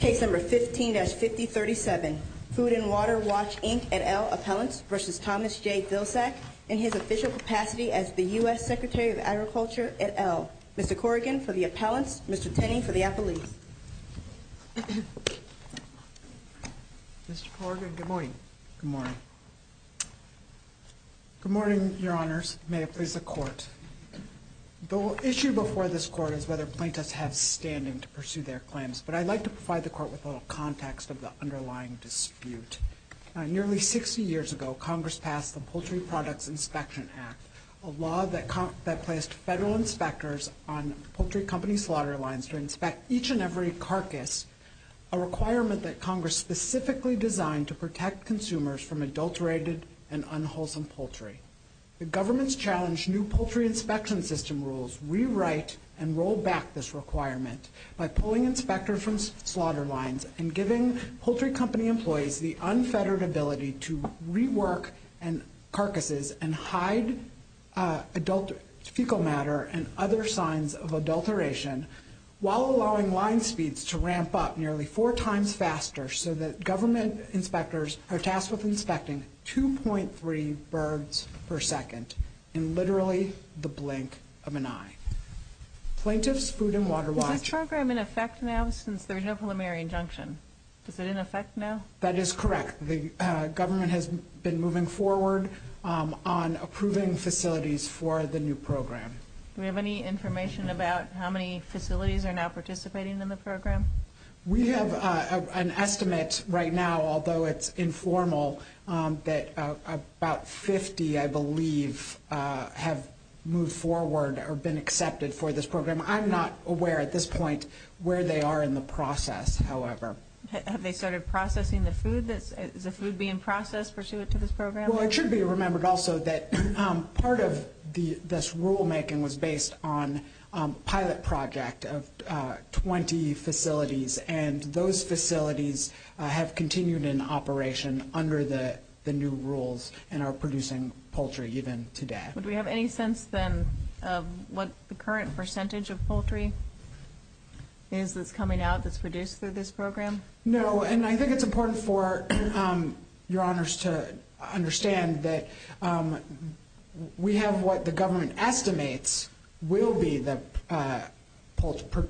Case No. 15-5037, Food & Water Watch, Inc. et al. Appellants v. Thomas J. Vilsack in his official capacity as the U.S. Secretary of Agriculture et al. Mr. Corrigan for the Appellants, Mr. Tenney for the Appellees. Mr. Corrigan, good morning. Good morning. The issue before this Court is whether plaintiffs have standing to pursue their claims, but I'd like to provide the Court with a little context of the underlying dispute. Nearly 60 years ago, Congress passed the Poultry Products Inspection Act, a law that placed federal inspectors on poultry company slaughter lines to inspect each and every carcass, a requirement that Congress specifically designed to protect consumers from adulterated and unwholesome poultry. The government's challenged new poultry inspection system rules rewrite and roll back this requirement by pulling inspectors from slaughter lines and giving poultry company employees the unfettered ability to rework carcasses and hide adult fecal matter and other signs of adulteration, while allowing line speeds to ramp up nearly four times faster so that government inspectors are tasked with inspecting 2.3 birds per second in literally the blink of an eye. Plaintiffs, Food and Water Watch... Is this program in effect now since there's no preliminary injunction? Is it in effect now? That is correct. The government has been moving forward on approving facilities for the new program. Do we have any information about how many facilities are now participating in the program? We have an estimate right now, although it's informal, that about 50, I believe, have moved forward or been accepted for this program. I'm not aware at this point where they are in the process, however. Have they started processing the food? Is the food being processed pursuant to this program? Well, it should be remembered also that part of this rulemaking was based on a pilot project of 20 facilities, and those facilities have continued in operation under the new rules and are producing poultry even today. Do we have any sense then of what the current percentage of poultry is that's coming out that's produced through this program? No, and I think it's important for your honors to understand that we have what the government estimates will be the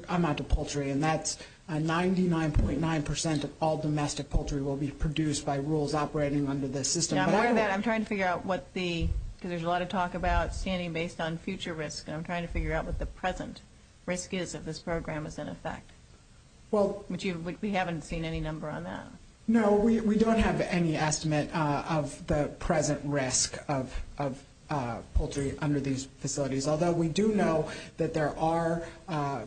amount of poultry, and that's 99.9% of all domestic poultry will be produced by rules operating under this system. I'm aware of that. I'm trying to figure out what the, because there's a lot of talk about standing based on future risk, and I'm trying to figure out what the present risk is that this program is in effect. We haven't seen any number on that. No, we don't have any estimate of the present risk of poultry under these facilities, although we do know that there are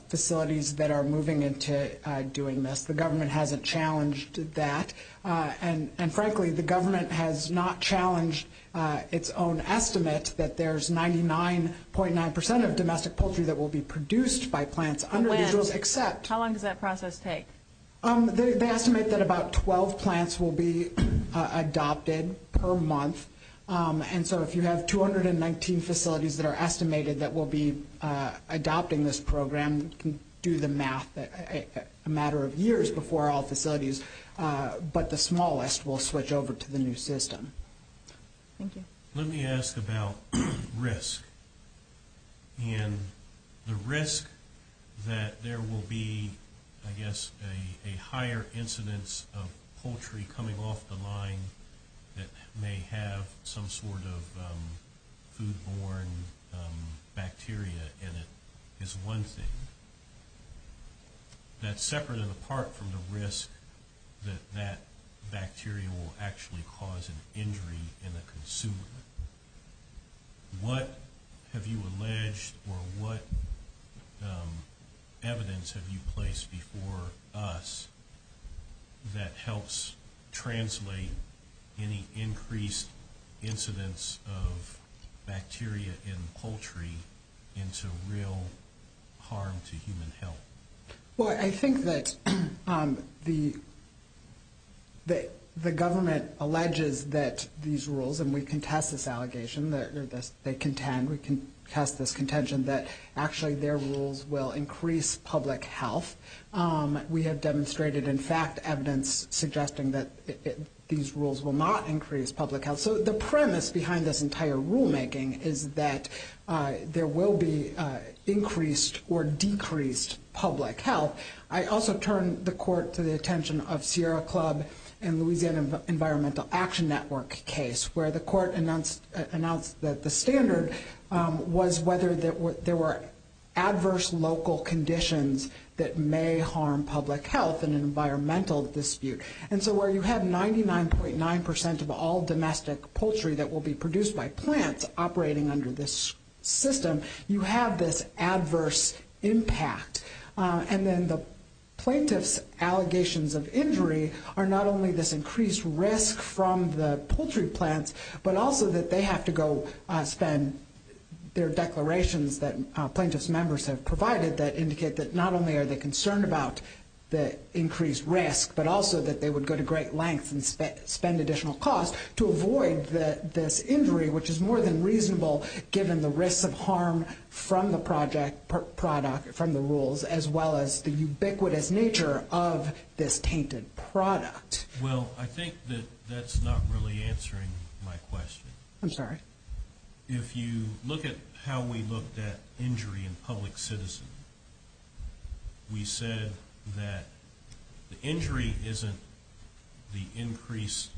facilities that are moving into doing this. The government hasn't challenged that, and frankly, the government has not challenged its own estimate that there's 99.9% of domestic poultry that will be produced by plants under these rules except. How long does that process take? They estimate that about 12 plants will be adopted per month, and so if you have 219 facilities that are estimated that will be adopting this program, you can do the math a matter of years before all facilities, but the smallest will switch over to the new system. Thank you. Let me ask about risk, and the risk that there will be, I guess, a higher incidence of poultry coming off the line that may have some sort of food-borne bacteria in it is one thing. That's separate and apart from the risk that that bacteria will actually cause an injury in the consumer. What have you alleged or what evidence have you placed before us that helps translate any increased incidence of bacteria in poultry into real harm to human health? Well, I think that the government alleges that these rules, and we contest this allegation, they contend, we contest this contention that actually their rules will increase public health. We have demonstrated, in fact, evidence suggesting that these rules will not increase public health. So the premise behind this entire rulemaking is that there will be increased or decreased public health. I also turn the court to the attention of Sierra Club and Louisiana Environmental Action Network case, where the court announced that the standard was whether there were adverse local conditions that may harm public health in an environmental dispute. And so where you have 99.9% of all domestic poultry that will be produced by plants operating under this system, you have this adverse impact. And then the plaintiff's allegations of injury are not only this increased risk from the poultry plants, but also that they have to go spend their declarations that plaintiff's members have provided that indicate that not only are they concerned about the increased risk, but also that they would go to great lengths and spend additional costs to avoid this injury, which is more than reasonable given the risks of harm from the product, from the rules, as well as the ubiquitous nature of this tainted product. Well, I think that that's not really answering my question. I'm sorry? If you look at how we looked at injury in public citizen, we said that the injury isn't the increased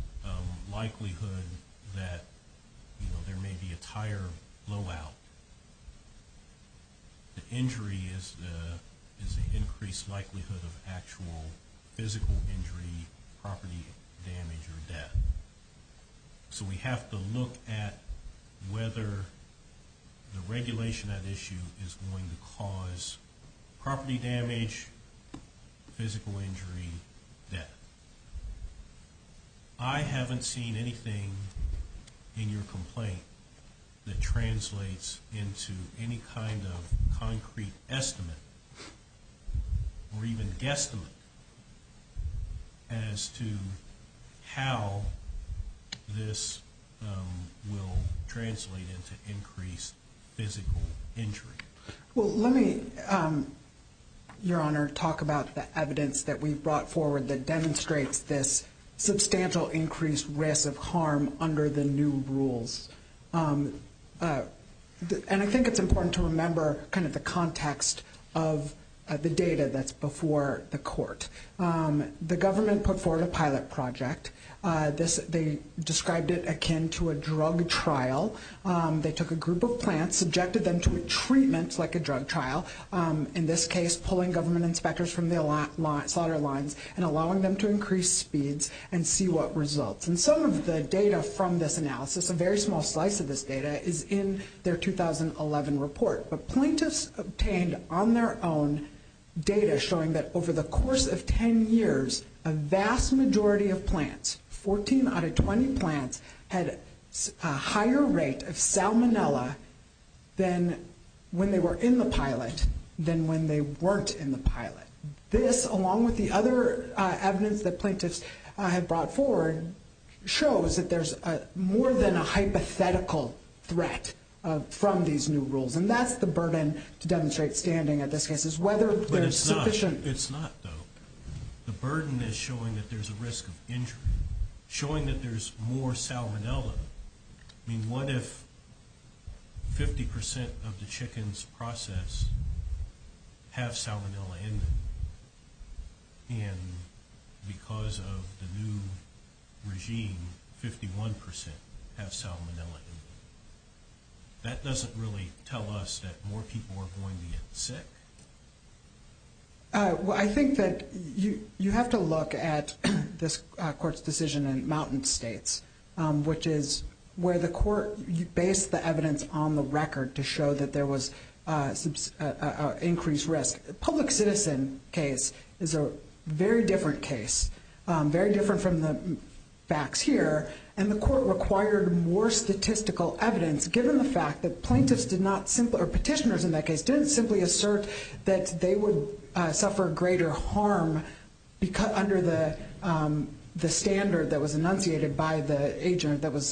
likelihood that there may be a tire blowout. The injury is the increased likelihood of actual physical injury, property damage, or death. So we have to look at whether the regulation at issue is going to cause property damage, physical injury, death. I haven't seen anything in your complaint that translates into any kind of concrete estimate, or even guesstimate, as to how this will translate into increased physical injury. Well, let me, Your Honor, talk about the evidence that we've brought forward that demonstrates this substantial increased risk of harm under the new rules. And I think it's important to remember kind of the context of the data that's before the court. The government put forward a pilot project. They described it akin to a drug trial. They took a group of plants, subjected them to a treatment like a drug trial, in this case pulling government inspectors from the slaughter lines and allowing them to increase speeds and see what results. And some of the data from this analysis, a very small slice of this data, is in their 2011 report. But plaintiffs obtained on their own data showing that over the course of 10 years, a vast majority of plants, 14 out of 20 plants, had a higher rate of salmonella than when they were in the pilot than when they weren't in the pilot. This, along with the other evidence that plaintiffs have brought forward, shows that there's more than a hypothetical threat from these new rules. And that's the burden to demonstrate standing at this case is whether there's sufficient... But it's not, though. The burden is showing that there's a risk of injury, showing that there's more salmonella. I mean, what if 50% of the chickens processed have salmonella in them? And because of the new regime, 51% have salmonella in them. That doesn't really tell us that more people are going to get sick. I think that you have to look at this court's decision in mountain states, which is where the court based the evidence on the record to show that there was increased risk. The public citizen case is a very different case, very different from the facts here. And the court required more statistical evidence, given the fact that plaintiffs did not simply, or petitioners in that case, didn't simply assert that they would suffer greater harm under the standard that was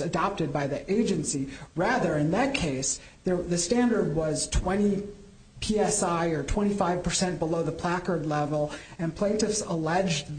adopted by the agency. Rather, in that case, the standard was 20 PSI or 25% below the placard level, and petitioners alleged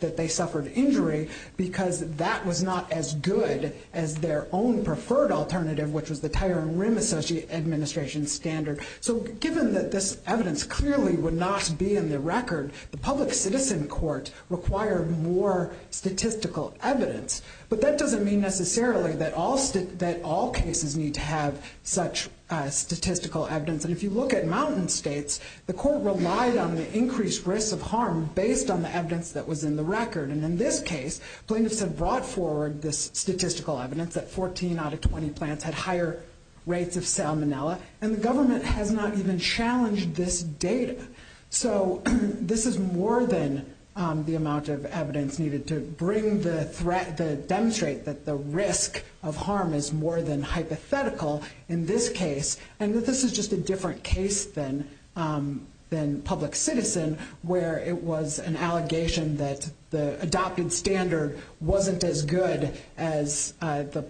that they suffered injury because that was not as good as their own preferred alternative, which was the Tire and Rim Association standard. So given that this evidence clearly would not be in the record, the public citizen court required more statistical evidence. But that doesn't mean necessarily that all cases need to have such statistical evidence. And if you look at mountain states, the court relied on the increased risk of harm based on the evidence that was in the record. And in this case, plaintiffs had brought forward this statistical evidence that 14 out of 20 plants had higher rates of salmonella, and the government has not even challenged this data. So this is more than the amount of evidence needed to bring the threat, to demonstrate that the risk of harm is more than hypothetical in this case, and that this is just a different case than public citizen, where it was an allegation that the adopted standard wasn't as good as the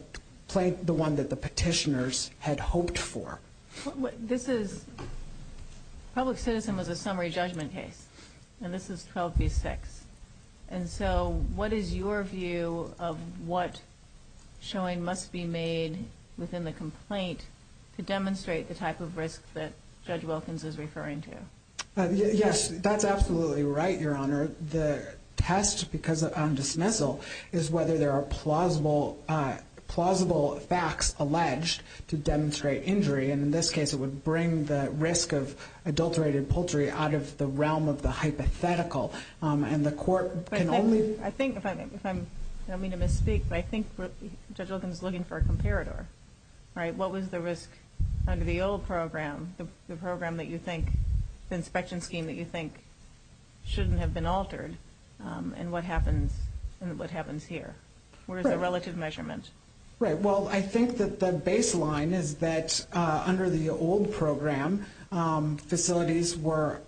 one that the petitioners had hoped for. Public citizen was a summary judgment case, and this is 12B6. And so what is your view of what showing must be made within the complaint to demonstrate the type of risk that Judge Wilkins is referring to? Yes, that's absolutely right, Your Honor. The test on dismissal is whether there are plausible facts alleged to demonstrate injury. And in this case, it would bring the risk of adulterated poultry out of the realm of the hypothetical, and the court can only— I think, if I'm—I don't mean to misspeak, but I think Judge Wilkins is looking for a comparator, right? What was the risk under the old program, the program that you think, the inspection scheme that you think shouldn't have been altered, and what happens here? Where is the relative measurement? Right. Well, I think that the baseline is that under the old program, facilities were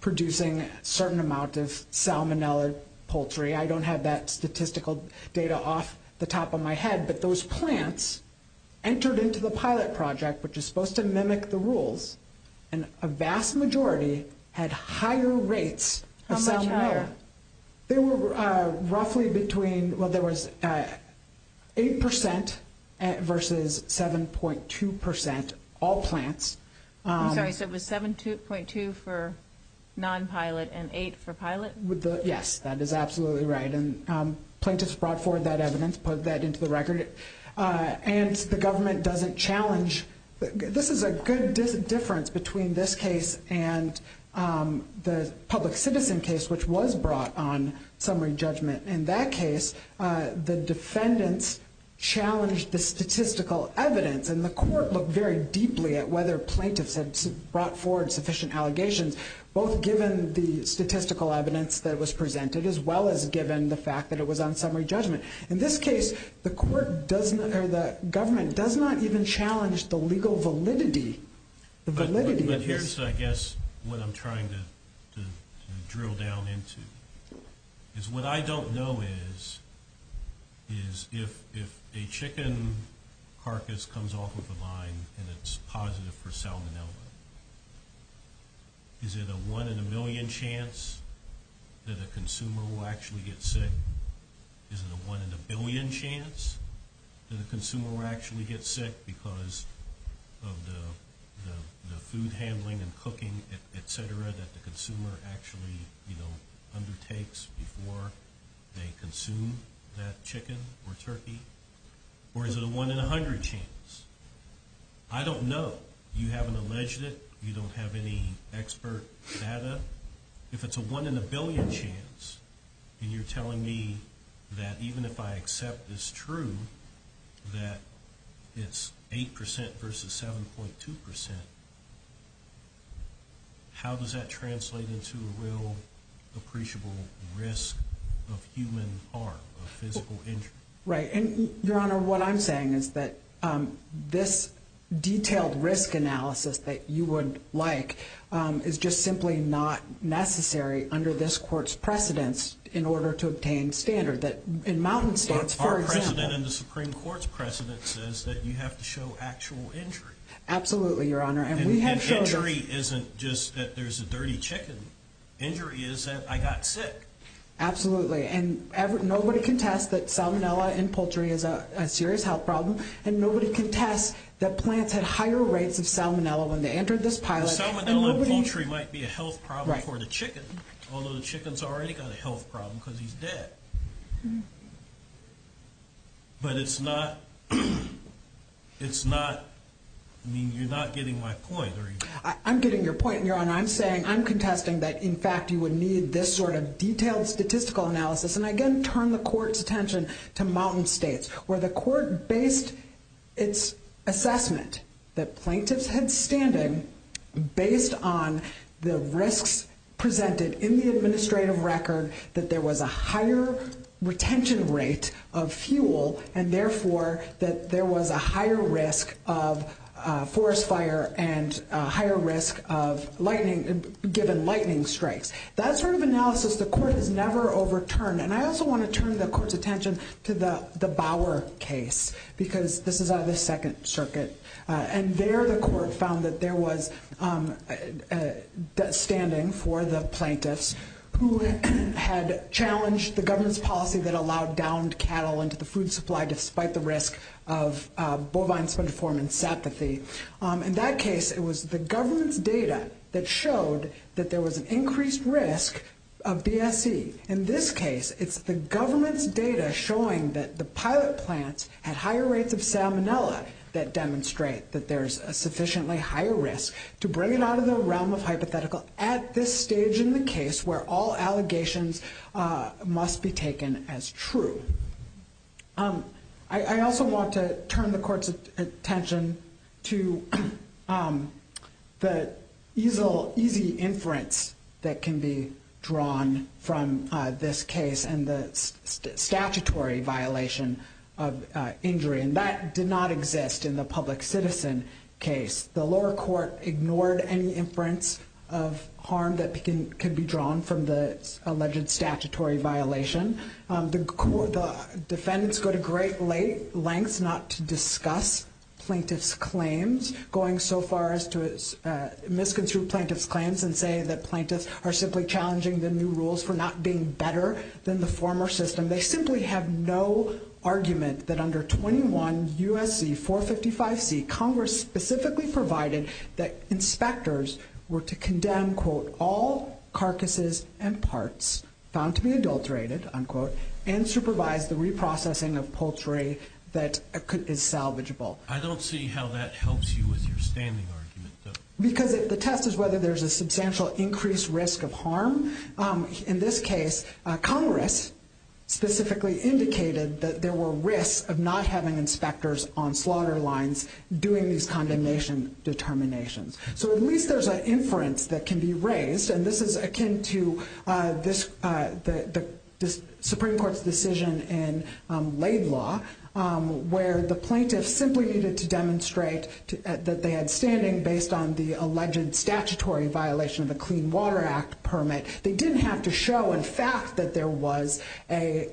producing a certain amount of salmonella poultry. I don't have that statistical data off the top of my head, but those plants entered into the pilot project, which is supposed to mimic the rules, and a vast majority had higher rates of salmonella. How much higher? They were roughly between—well, there was 8% versus 7.2% all plants. I'm sorry, so it was 7.2% for non-pilot and 8% for pilot? Yes, that is absolutely right. And plaintiffs brought forward that evidence, put that into the record, and the government doesn't challenge—this is a good difference between this case and the public citizen case, which was brought on summary judgment. In that case, the defendants challenged the statistical evidence, and the court looked very deeply at whether plaintiffs had brought forward sufficient allegations, both given the statistical evidence that was presented as well as given the fact that it was on summary judgment. In this case, the government does not even challenge the legal validity. But here's, I guess, what I'm trying to drill down into. What I don't know is if a chicken carcass comes off of a vine and it's positive for salmonella, is it a one in a million chance that a consumer will actually get sick? Is it a one in a billion chance that a consumer will actually get sick because of the food handling and cooking, et cetera, that the consumer actually undertakes before they consume that chicken or turkey? Or is it a one in a hundred chance? I don't know. You haven't alleged it. You don't have any expert data. If it's a one in a billion chance and you're telling me that even if I accept it's true, that it's 8% versus 7.2%, how does that translate into a real appreciable risk of human harm, of physical injury? Right. Your Honor, what I'm saying is that this detailed risk analysis that you would like is just simply not necessary under this Court's precedence in order to obtain standard. In Mountain State, for example— Our precedent and the Supreme Court's precedent says that you have to show actual injury. Absolutely, Your Honor. And injury isn't just that there's a dirty chicken. Injury is that I got sick. Absolutely. And nobody can test that salmonella in poultry is a serious health problem, and nobody can test that plants had higher rates of salmonella when they entered this pilot— Salmonella in poultry might be a health problem for the chicken, although the chicken's already got a health problem because he's dead. But it's not—it's not—I mean, you're not getting my point, are you? I'm getting your point, Your Honor. I'm saying—I'm contesting that, in fact, you would need this sort of detailed statistical analysis. And I again turn the Court's attention to Mountain State, where the Court based its assessment that plaintiffs had standing based on the risks presented in the administrative record, that there was a higher retention rate of fuel, and therefore that there was a higher risk of forest fire and a higher risk of lightning, given lightning strikes. That sort of analysis the Court has never overturned. And I also want to turn the Court's attention to the Bower case, because this is out of the Second Circuit. And there the Court found that there was standing for the plaintiffs who had challenged the government's policy that allowed downed cattle into the food supply despite the risk of bovine spongiform encephalopathy. In that case, it was the government's data that showed that there was an increased risk of BSE. In this case, it's the government's data showing that the pilot plants had higher rates of salmonella that demonstrate that there's a sufficiently higher risk to bring it out of the realm of hypothetical at this stage in the case where all allegations must be taken as true. I also want to turn the Court's attention to the easy inference that can be drawn from this case and the statutory violation of injury. And that did not exist in the public citizen case. The lower court ignored any inference of harm that can be drawn from the alleged statutory violation. The defendants go to great lengths not to discuss plaintiffs' claims, going so far as to misconstrue plaintiffs' claims and say that plaintiffs are simply challenging the new rules for not being better than the former system. They simply have no argument that under 21 U.S.C. 455C, Congress specifically provided that inspectors were to condemn, quote, all carcasses and parts found to be adulterated, unquote, and supervise the reprocessing of poultry that is salvageable. I don't see how that helps you with your standing argument, though. Because the test is whether there's a substantial increased risk of harm. In this case, Congress specifically indicated that there were risks of not having inspectors on slaughter lines doing these condemnation determinations. So at least there's an inference that can be raised. And this is akin to the Supreme Court's decision in Laidlaw, where the plaintiffs simply needed to demonstrate that they had standing based on the alleged statutory violation of the Clean Water Act permit. They didn't have to show in fact that there was a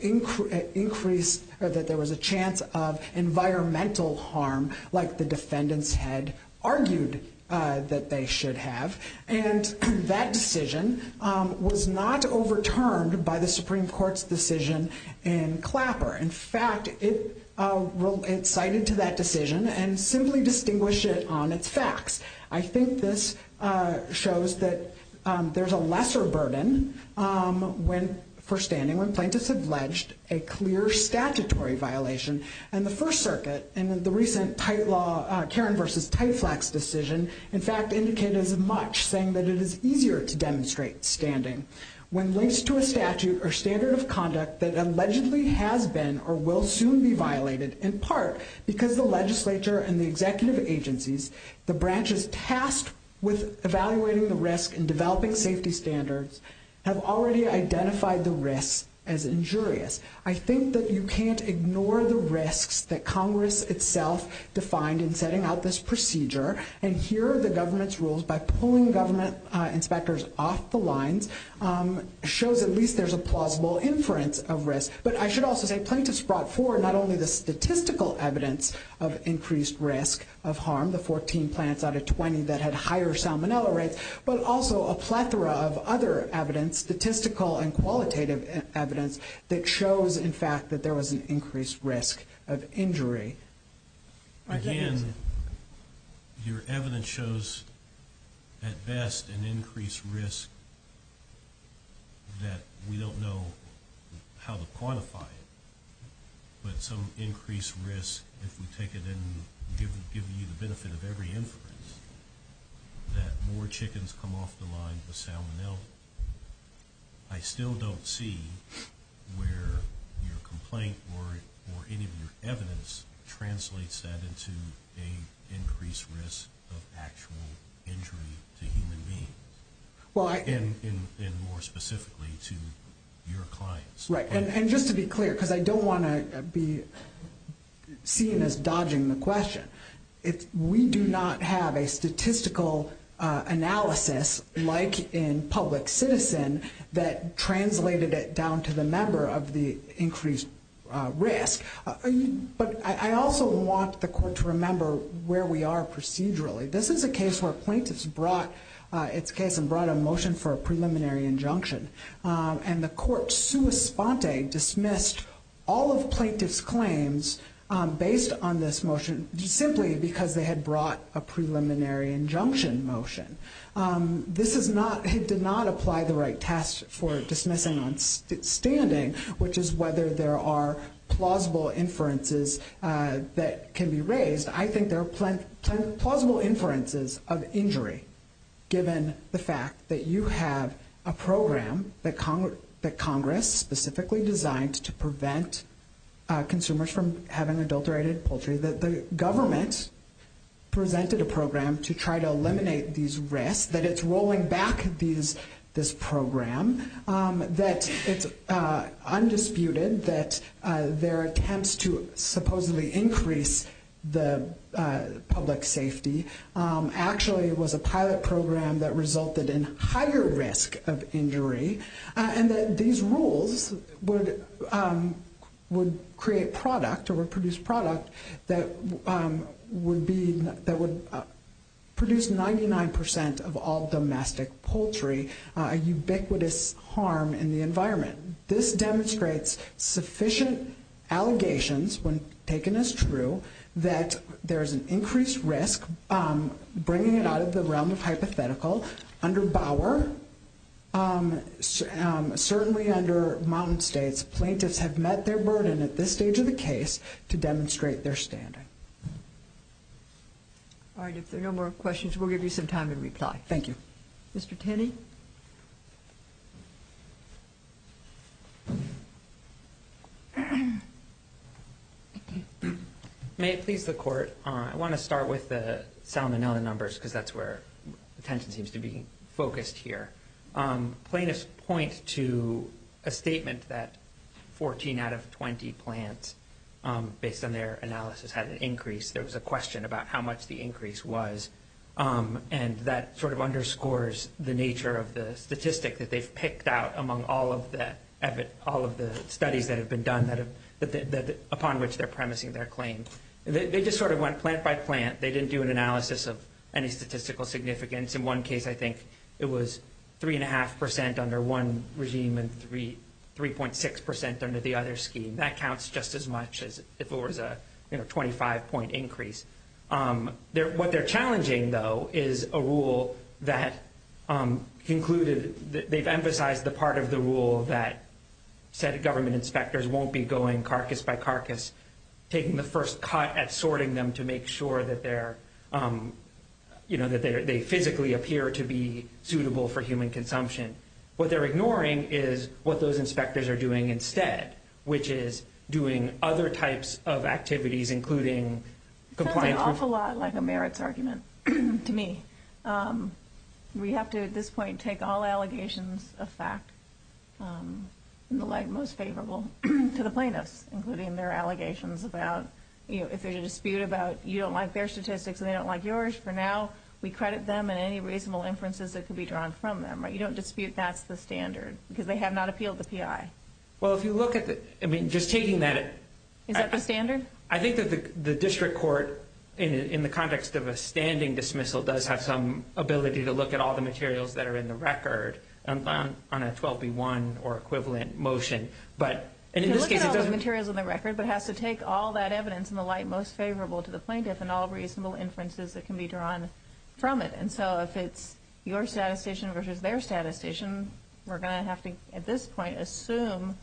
chance of environmental harm, like the defendants had argued that they should have. And that decision was not overturned by the Supreme Court's decision in Clapper. In fact, it cited to that decision and simply distinguished it on its facts. I think this shows that there's a lesser burden for standing when plaintiffs have alleged a clear statutory violation. And the First Circuit, in the recent Karen v. Tyflex decision, in fact indicated as much, saying that it is easier to demonstrate standing when linked to a statute or standard of conduct that allegedly has been or will soon be violated, in part because the legislature and the executive agencies, the branches tasked with evaluating the risk and developing safety standards, have already identified the risks as injurious. I think that you can't ignore the risks that Congress itself defined in setting out this procedure. And here are the government's rules by pulling government inspectors off the lines, shows at least there's a plausible inference of risk. But I should also say plaintiffs brought forward not only the statistical evidence of increased risk of harm, the 14 plants out of 20 that had higher salmonella rates, but also a plethora of other evidence, statistical and qualitative evidence, that shows, in fact, that there was an increased risk of injury. Again, your evidence shows, at best, an increased risk that we don't know how to quantify it. But some increased risk, if we take it and give you the benefit of every inference, that more chickens come off the line with salmonella. I still don't see where your complaint or any of your evidence translates that into an increased risk of actual injury to human beings. And more specifically to your clients. Right. And just to be clear, because I don't want to be seen as dodging the question, we do not have a statistical analysis, like in public citizen, that translated it down to the member of the increased risk. But I also want the court to remember where we are procedurally. This is a case where plaintiffs brought a motion for a preliminary injunction. And the court sua sponte dismissed all of plaintiff's claims based on this motion, simply because they had brought a preliminary injunction motion. This did not apply the right test for dismissing on standing, which is whether there are plausible inferences that can be raised. I think there are plausible inferences of injury, given the fact that you have a program that Congress specifically designed to prevent consumers from having adulterated poultry, that the government presented a program to try to eliminate these risks, that it's rolling back this program, that it's undisputed, that their attempts to supposedly increase the public safety actually was a pilot program that resulted in higher risk of injury, and that these rules would create product, or would produce product, that would produce 99% of all domestic poultry, a ubiquitous harm in the environment. This demonstrates sufficient allegations, when taken as true, that there is an increased risk, bringing it out of the realm of hypothetical, under Bauer, certainly under Mountain States, plaintiffs have met their burden at this stage of the case to demonstrate their standing. All right, if there are no more questions, we'll give you some time to reply. Thank you. Mr. Tenney? May it please the Court, I want to start with the Salmonella numbers, because that's where attention seems to be focused here. Plaintiffs point to a statement that 14 out of 20 plants, based on their analysis, had an increase. There was a question about how much the increase was, and that sort of underscores the nature of the statistic that they've picked out among all of the studies that have been done upon which they're premising their claim. They just sort of went plant by plant. They didn't do an analysis of any statistical significance. In one case, I think it was 3.5% under one regime and 3.6% under the other scheme. That counts just as much as if it was a 25-point increase. What they're challenging, though, is a rule that concluded that they've emphasized the part of the rule that said government inspectors won't be going carcass by carcass, taking the first cut at sorting them to make sure that they physically appear to be suitable for human consumption. What they're ignoring is what those inspectors are doing instead, which is doing other types of activities, including complying through- That's an awful lot like a merits argument to me. We have to, at this point, take all allegations of fact in the light most favorable to the plaintiffs, including their allegations about if there's a dispute about you don't like their statistics and they don't like yours, for now we credit them and any reasonable inferences that could be drawn from them. You don't dispute that's the standard because they have not appealed the PI. Well, if you look at the- I mean, just taking that- Is that the standard? I think that the district court, in the context of a standing dismissal, does have some ability to look at all the materials that are in the record on a 12B1 or equivalent motion. To look at all the materials on the record but has to take all that evidence in the light most favorable to the plaintiff and all reasonable inferences that can be drawn from it. And so if it's your statistician versus their statistician, we're going to have to, at this point, assume,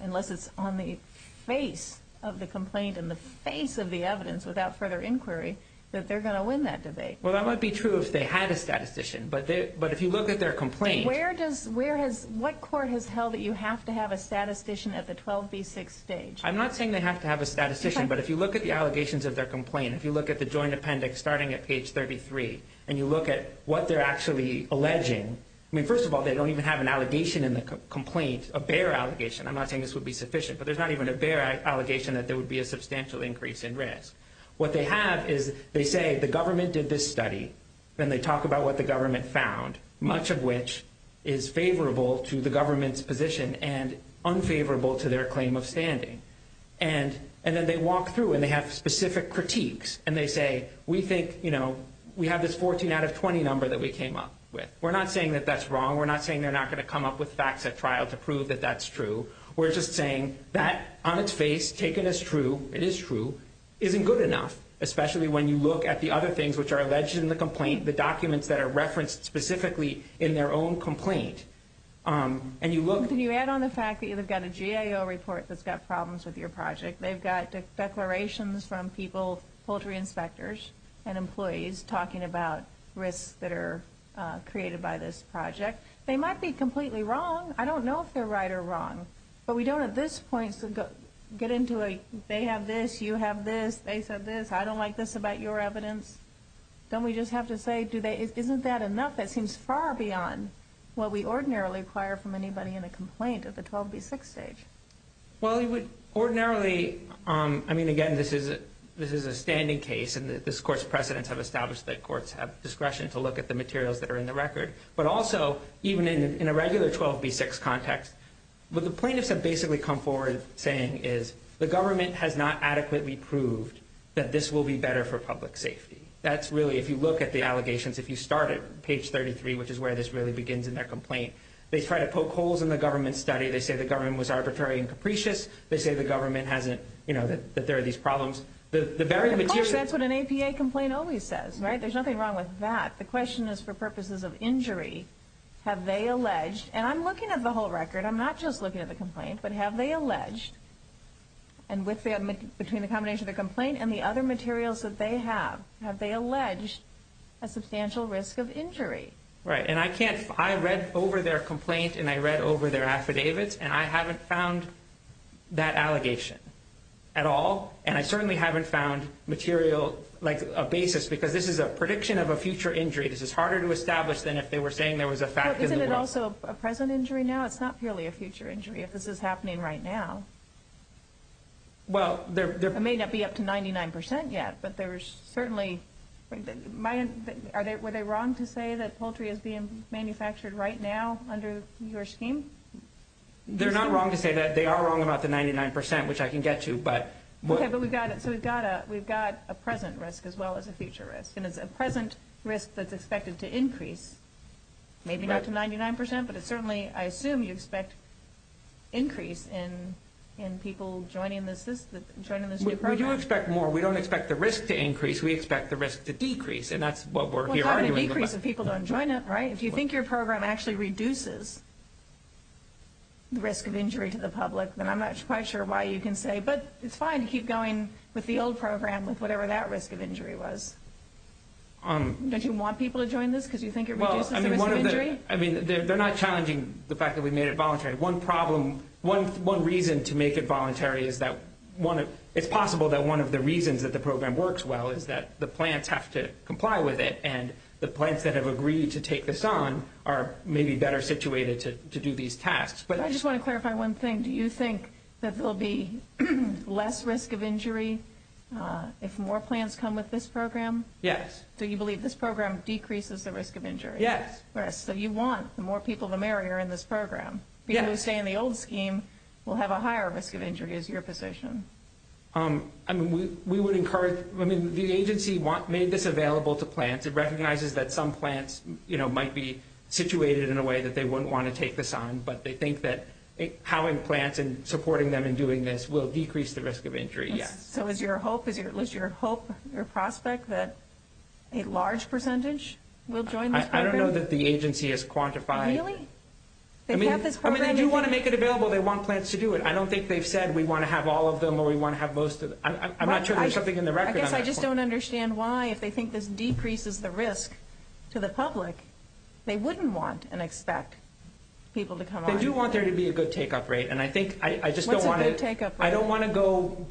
unless it's on the face of the complaint and the face of the evidence without further inquiry, that they're going to win that debate. Well, that might be true if they had a statistician, but if you look at their complaint- Where does- What court has held that you have to have a statistician at the 12B6 stage? I'm not saying they have to have a statistician, but if you look at the allegations of their complaint, if you look at the joint appendix starting at page 33 and you look at what they're actually alleging- I mean, first of all, they don't even have an allegation in the complaint, a bare allegation. I'm not saying this would be sufficient, but there's not even a bare allegation that there would be a substantial increase in risk. What they have is they say the government did this study, then they talk about what the government found, much of which is favorable to the government's position and unfavorable to their claim of standing. And then they walk through and they have specific critiques, and they say, we think we have this 14 out of 20 number that we came up with. We're not saying that that's wrong. We're not saying they're not going to come up with facts at trial to prove that that's true. We're just saying that, on its face, taken as true, it is true, isn't good enough, especially when you look at the other things which are alleged in the complaint, the documents that are referenced specifically in their own complaint. Can you add on the fact that you've got a GAO report that's got problems with your project? They've got declarations from people, poultry inspectors and employees, talking about risks that are created by this project. They might be completely wrong. I don't know if they're right or wrong, but we don't at this point get into a they have this, you have this, they said this, I don't like this about your evidence. Don't we just have to say, isn't that enough? That seems far beyond what we ordinarily require from anybody in a complaint at the 12B6 stage. Well, you would ordinarily, I mean, again, this is a standing case, and this Court's precedents have established that courts have discretion to look at the materials that are in the record. But also, even in a regular 12B6 context, what the plaintiffs have basically come forward saying is, the government has not adequately proved that this will be better for public safety. That's really, if you look at the allegations, if you start at page 33, which is where this really begins in their complaint, they try to poke holes in the government's study. They say the government was arbitrary and capricious. They say the government hasn't, you know, that there are these problems. Of course, that's what an APA complaint always says, right? There's nothing wrong with that. The question is, for purposes of injury, have they alleged, and I'm looking at the whole record, I'm not just looking at the complaint, but have they alleged, and between the combination of the complaint and the other materials that they have, have they alleged a substantial risk of injury? Right, and I can't, I read over their complaint, and I read over their affidavits, and I haven't found that allegation at all, and I certainly haven't found material, like, a basis, because this is a prediction of a future injury. This is harder to establish than if they were saying there was a fact in the world. Is this also a present injury now? It's not purely a future injury if this is happening right now. Well, there... It may not be up to 99% yet, but there's certainly... Are they wrong to say that poultry is being manufactured right now under your scheme? They're not wrong to say that. They are wrong about the 99%, which I can get to, but... Okay, but we've got a present risk as well as a future risk, and it's a present risk that's expected to increase, maybe not to 99%, but it's certainly, I assume, you expect increase in people joining this new program. We do expect more. We don't expect the risk to increase. We expect the risk to decrease, and that's what we're here arguing about. Well, it's not a decrease if people don't join it, right? If you think your program actually reduces the risk of injury to the public, then I'm not quite sure why you can say, but it's fine to keep going with the old program with whatever that risk of injury was. Don't you want people to join this because you think it reduces the risk of injury? Well, I mean, one of the... I mean, they're not challenging the fact that we made it voluntary. One problem, one reason to make it voluntary is that one of... It's possible that one of the reasons that the program works well is that the plants have to comply with it, and the plants that have agreed to take this on are maybe better situated to do these tasks. But I just want to clarify one thing. Do you think that there will be less risk of injury if more plants come with this program? Yes. Do you believe this program decreases the risk of injury? Yes. Yes. So you want more people to marry her in this program. Yes. People who stay in the old scheme will have a higher risk of injury is your position. I mean, we would encourage... I mean, the agency made this available to plants. It recognizes that some plants might be situated in a way that they wouldn't want to take this on, but they think that having plants and supporting them in doing this will decrease the risk of injury, yes. So is your hope, is your prospect that a large percentage will join this program? I don't know that the agency has quantified... Really? I mean, they do want to make it available. They want plants to do it. I don't think they've said we want to have all of them or we want to have most of them. I'm not sure there's something in the record on that point. I guess I just don't understand why, if they think this decreases the risk to the public, they wouldn't want and expect people to come on. They do want there to be a good take-up rate, and I think I just don't want to... What's a good take-up rate? I don't want to go...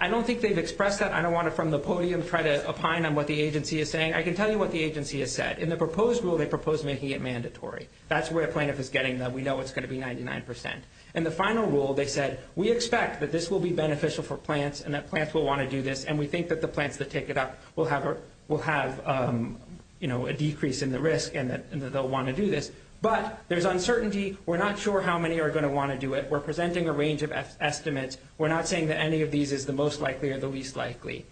I don't think they've expressed that. I don't want to, from the podium, try to opine on what the agency is saying. I can tell you what the agency has said. In the proposed rule, they proposed making it mandatory. That's where a plaintiff is getting them. We know it's going to be 99%. In the final rule, they said, we expect that this will be beneficial for plants and that plants will want to do this, and we think that the plants that take it up will have a decrease in the risk and that they'll want to do this. But there's uncertainty. We're not sure how many are going to want to do it. We're presenting a range of estimates. We're not saying that any of these is the most likely or the least likely.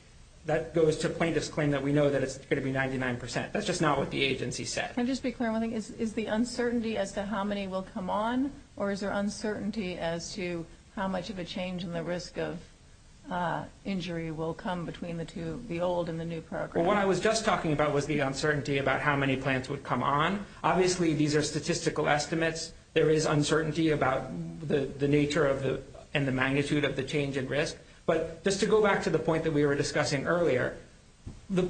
That goes to plaintiffs' claim that we know that it's going to be 99%. That's just not what the agency said. Can I just be clear on one thing? Is the uncertainty as to how many will come on, or is there uncertainty as to how much of a change in the risk of injury will come between the old and the new program? Well, what I was just talking about was the uncertainty about how many plants would come on. Obviously, these are statistical estimates. There is uncertainty about the nature and the magnitude of the change in risk. But just to go back to the point that we were discussing earlier, the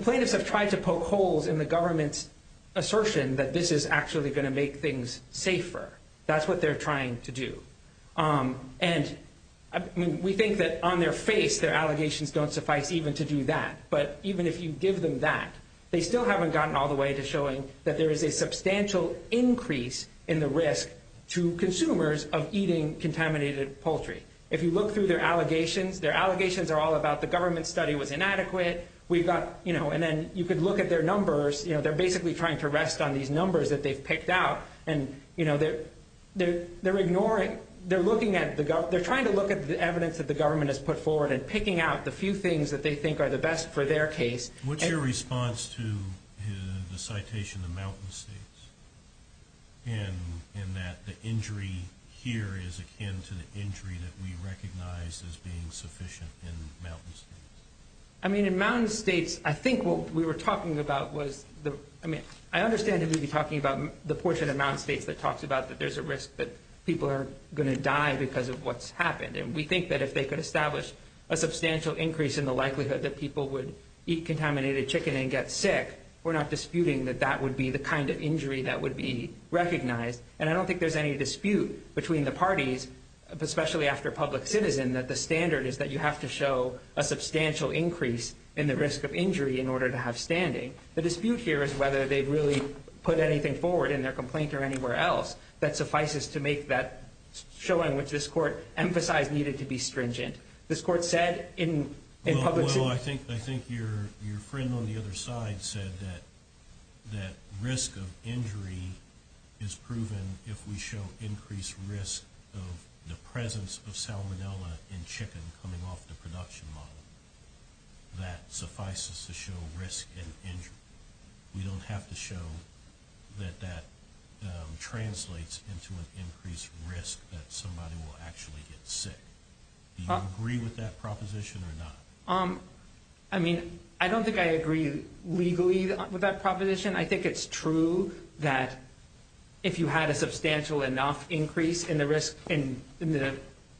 plaintiffs have tried to poke holes in the government's assertion that this is actually going to make things safer. That's what they're trying to do. And we think that on their face their allegations don't suffice even to do that. But even if you give them that, they still haven't gotten all the way to showing that there is a substantial increase in the risk to consumers of eating contaminated poultry. If you look through their allegations, their allegations are all about the government's study was inadequate. And then you could look at their numbers. They're basically trying to rest on these numbers that they've picked out. And they're trying to look at the evidence that the government has put forward and picking out the few things that they think are the best for their case. What's your response to the citation of mountain states in that the injury here is akin to the injury that we recognize as being sufficient in mountain states? I mean, in mountain states, I think what we were talking about was the – I mean, I understand that we'd be talking about the portion of mountain states that talks about that there's a risk that people are going to die because of what's happened. And we think that if they could establish a substantial increase in the likelihood that people would eat contaminated chicken and get sick, we're not disputing that that would be the kind of injury that would be recognized. And I don't think there's any dispute between the parties, especially after public citizen, that the standard is that you have to show a substantial increase in the risk of injury in order to have standing. The dispute here is whether they've really put anything forward in their complaint or anywhere else that suffices to make that showing, which this court emphasized needed to be stringent. This court said in public – We don't have to show that that translates into an increased risk that somebody will actually get sick. Do you agree with that proposition or not? I mean, I don't think I agree legally with that proposition. I think it's true that if you had a substantial enough increase in the risk – in the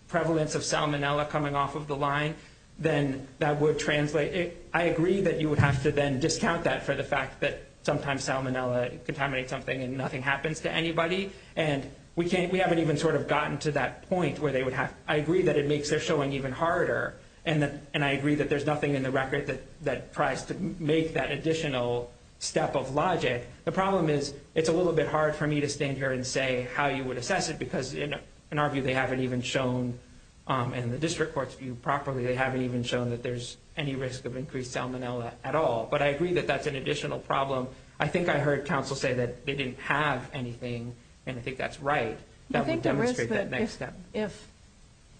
prevalence of salmonella coming off of the line, then that would translate – I agree that you would have to then discount that for the fact that sometimes salmonella contaminates something and nothing happens to anybody. And we haven't even sort of gotten to that point where they would have – I agree that it makes their showing even harder, and I agree that there's nothing in the record that tries to make that additional step of logic. The problem is it's a little bit hard for me to stand here and say how you would assess it because, in our view, they haven't even shown – in the district court's view properly, they haven't even shown that there's any risk of increased salmonella at all. But I agree that that's an additional problem. So I think I heard counsel say that they didn't have anything, and I think that's right. That would demonstrate that next step.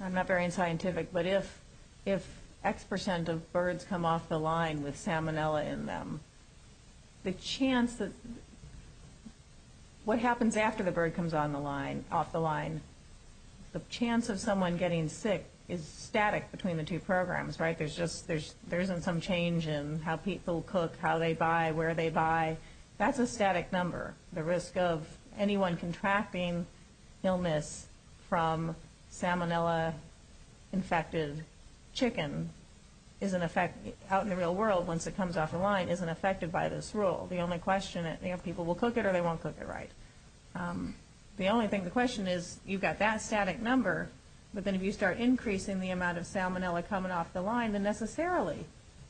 I'm not very scientific, but if X percent of birds come off the line with salmonella in them, the chance that – what happens after the bird comes off the line, the chance of someone getting sick is static between the two programs, right? There's just – there isn't some change in how people cook, how they buy, where they buy. That's a static number. The risk of anyone contracting illness from salmonella-infected chicken is in effect – out in the real world, once it comes off the line, isn't affected by this rule. The only question – people will cook it or they won't cook it right. The only thing – the question is you've got that static number, but then if you start increasing the amount of salmonella coming off the line, then necessarily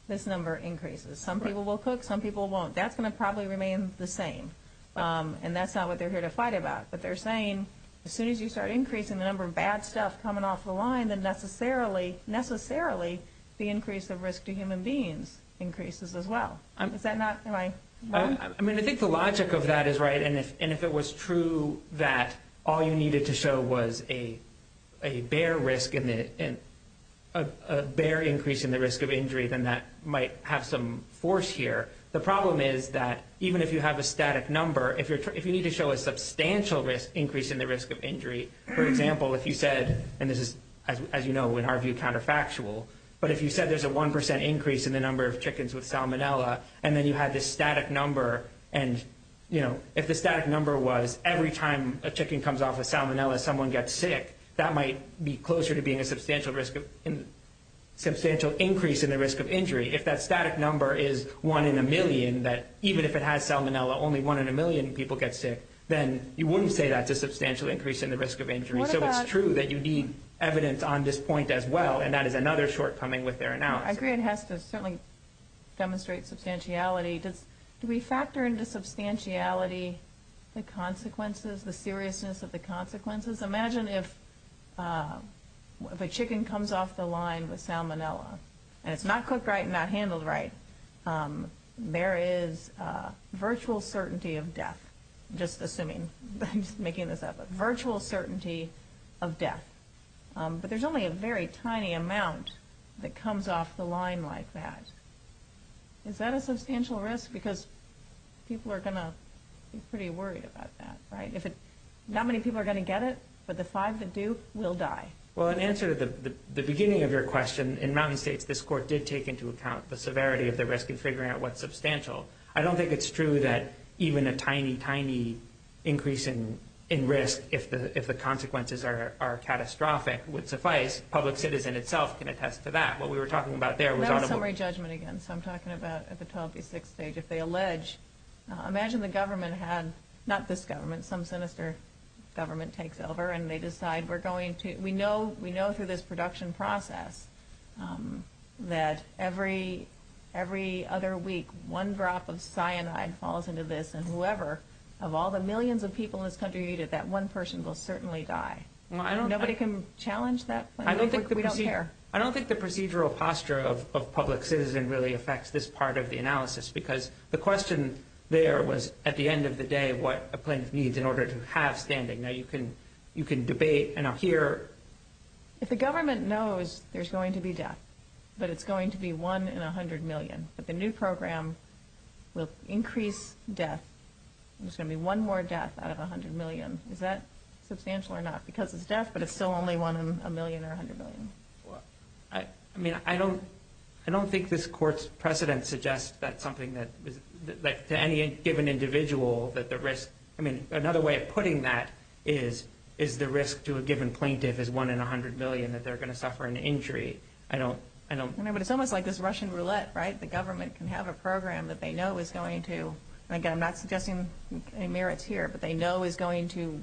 this number increases. Some people will cook, some people won't. That's going to probably remain the same, and that's not what they're here to fight about. But they're saying as soon as you start increasing the number of bad stuff coming off the line, then necessarily – necessarily the increase of risk to human beings increases as well. Is that not – am I wrong? I mean, I think the logic of that is right, and if it was true that all you needed to show was a bear risk and a bear increase in the risk of injury, then that might have some force here. The problem is that even if you have a static number, if you need to show a substantial increase in the risk of injury, for example, if you said – and this is, as you know, in our view counterfactual – but if you said there's a 1 percent increase in the number of chickens with salmonella, and then you had this static number, and, you know, if the static number was every time a chicken comes off a salmonella, someone gets sick, that might be closer to being a substantial risk of – substantial increase in the risk of injury. If that static number is one in a million, that even if it has salmonella, only one in a million people get sick, then you wouldn't say that's a substantial increase in the risk of injury. So it's true that you need evidence on this point as well, and that is another shortcoming with their analysis. I agree it has to certainly demonstrate substantiality. Do we factor into substantiality the consequences, the seriousness of the consequences? Imagine if a chicken comes off the line with salmonella, and it's not cooked right and not handled right. There is virtual certainty of death, just assuming – I'm just making this up – virtual certainty of death. But there's only a very tiny amount that comes off the line like that. Is that a substantial risk? Because people are going to be pretty worried about that, right? If it – not many people are going to get it, but the five that do will die. Well, in answer to the beginning of your question, in mountain states this court did take into account the severity of the risk in figuring out what's substantial. I don't think it's true that even a tiny, tiny increase in risk, if the consequences are catastrophic, would suffice. Public citizen itself can attest to that. What we were talking about there was audible. That was summary judgment again, so I'm talking about at the 12 v. 6 stage. Imagine the government had – not this government, some sinister government takes over, and they decide we're going to – we know through this production process that every other week one drop of cyanide falls into this, and whoever of all the millions of people in this country eat it, that one person will certainly die. Nobody can challenge that? We don't care. I don't think the procedural posture of public citizen really affects this part of the analysis, because the question there was at the end of the day what a plaintiff needs in order to have standing. Now, you can debate, and I'll hear. If the government knows there's going to be death, but it's going to be one in 100 million, but the new program will increase death, there's going to be one more death out of 100 million, is that substantial or not? Because it's death, but it's still only one in a million or 100 million. I mean, I don't think this court's precedent suggests that something that – to any given individual that the risk – I mean, another way of putting that is, is the risk to a given plaintiff is one in 100 million that they're going to suffer an injury. I don't – I know, but it's almost like this Russian roulette, right? The government can have a program that they know is going to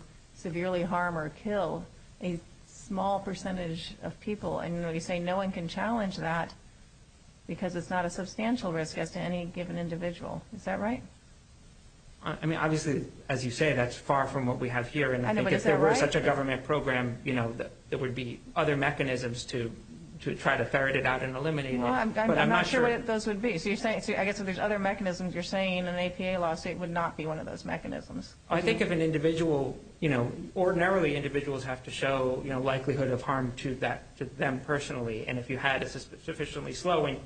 – severely harm or kill a small percentage of people, and you say no one can challenge that because it's not a substantial risk as to any given individual. Is that right? I mean, obviously, as you say, that's far from what we have here. I know, but is that right? And I think if there were such a government program, you know, there would be other mechanisms to try to ferret it out and eliminate it. Well, I'm not sure what those would be. So you're saying – I guess if there's other mechanisms, you're saying an APA lawsuit would not be one of those mechanisms. I think if an individual – you know, ordinarily individuals have to show likelihood of harm to them personally, and if you had a sufficiently slow and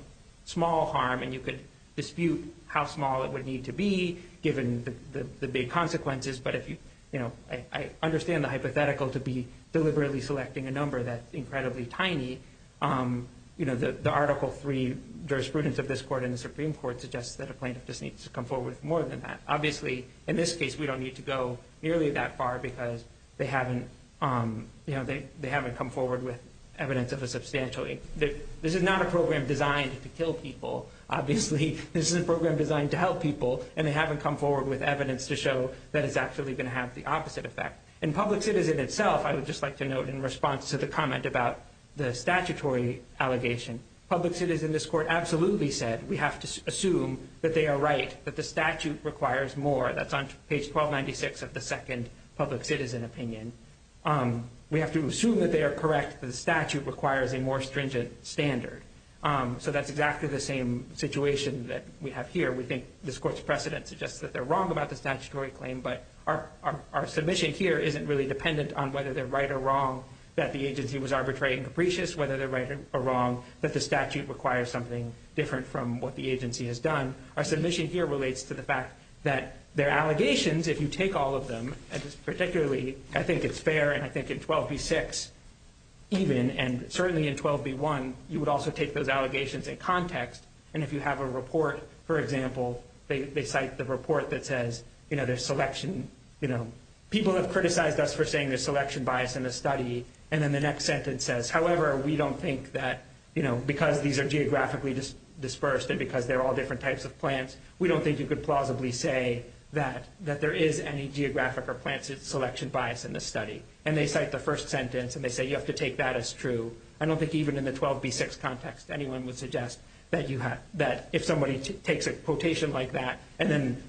small harm, and you could dispute how small it would need to be given the big consequences, but if you – you know, I understand the hypothetical to be deliberately selecting a number that's incredibly tiny. You know, the Article III jurisprudence of this court in the Supreme Court suggests that a plaintiff just needs to come forward with more than that. Obviously, in this case, we don't need to go nearly that far, because they haven't – you know, they haven't come forward with evidence of a substantial – this is not a program designed to kill people. Obviously, this is a program designed to help people, and they haven't come forward with evidence to show that it's actually going to have the opposite effect. In public citizen itself, I would just like to note in response to the comment about the statutory allegation, public citizen in this court absolutely said we have to assume that they are right, that the statute requires more. That's on page 1296 of the second public citizen opinion. We have to assume that they are correct, that the statute requires a more stringent standard. So that's exactly the same situation that we have here. We think this court's precedent suggests that they're wrong about the statutory claim, but our submission here isn't really dependent on whether they're right or wrong, that the agency was arbitrary and capricious, whether they're right or wrong, that the statute requires something different from what the agency has done. Our submission here relates to the fact that their allegations, if you take all of them, particularly I think it's fair, and I think in 12b-6 even, and certainly in 12b-1, you would also take those allegations in context, and if you have a report, for example, they cite the report that says there's selection – people have criticized us for saying there's selection bias in the study, and then the next sentence says, however, we don't think that because these are geographically dispersed and because they're all different types of plants, we don't think you could plausibly say that there is any geographic or plant selection bias in the study. And they cite the first sentence, and they say you have to take that as true. I don't think even in the 12b-6 context anyone would suggest that if somebody takes a quotation like that,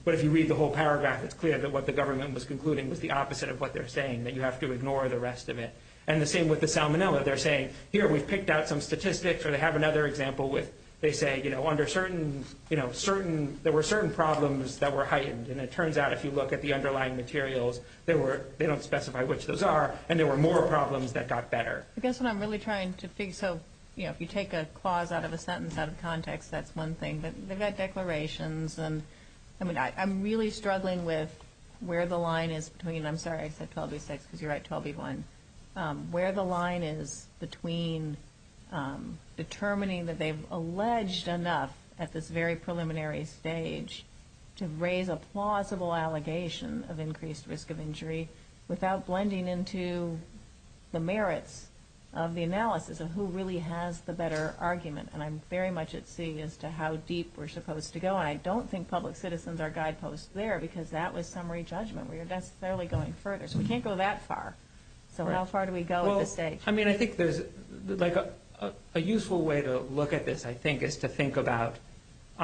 but if you read the whole paragraph, it's clear that what the government was concluding was the opposite of what they're saying, that you have to ignore the rest of it. And the same with the salmonella. They're saying, here, we've picked out some statistics, or they have another example where they say, under certain – there were certain problems that were heightened, and it turns out if you look at the underlying materials, they don't specify which those are, and there were more problems that got better. I guess what I'm really trying to figure – so if you take a clause out of a sentence out of context, that's one thing, but they've got declarations, and I'm really struggling with where the line is between – I'm sorry, I said 12b-6 because you write 12b-1 – where the line is between determining that they've alleged enough at this very preliminary stage to raise a plausible allegation of increased risk of injury without blending into the merits of the analysis of who really has the better argument. And I'm very much at sea as to how deep we're supposed to go, and I don't think public citizens are guideposts there, because that was summary judgment. We're necessarily going further, so we can't go that far. So how far do we go at this stage? I mean, I think there's – a useful way to look at this, I think, is to think about –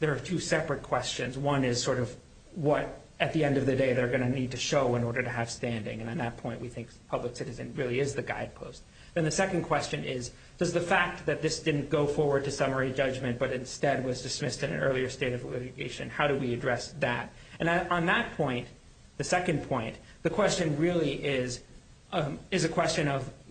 there are two separate questions. One is sort of what, at the end of the day, they're going to need to show in order to have standing, and at that point we think public citizen really is the guidepost. Then the second question is, does the fact that this didn't go forward to summary judgment but instead was dismissed in an earlier state of litigation, how do we address that? And on that point, the second point, the question really is a question of –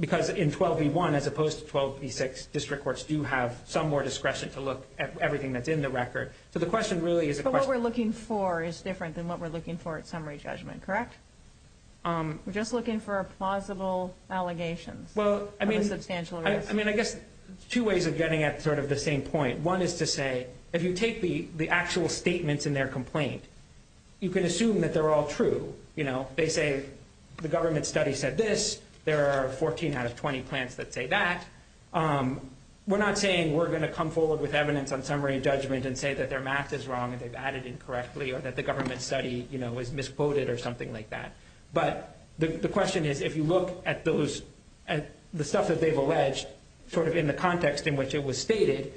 because in 12v1, as opposed to 12v6, district courts do have some more discretion to look at everything that's in the record. So the question really is a question of – But what we're looking for is different than what we're looking for at summary judgment, correct? We're just looking for plausible allegations of a substantial risk. I mean, I guess two ways of getting at sort of the same point. One is to say, if you take the actual statements in their complaint, you can assume that they're all true. They say the government study said this. There are 14 out of 20 plants that say that. We're not saying we're going to come forward with evidence on summary judgment and say that their math is wrong and they've added incorrectly or that the government study was misquoted or something like that. But the question is, if you look at the stuff that they've alleged sort of in the context in which it was stated,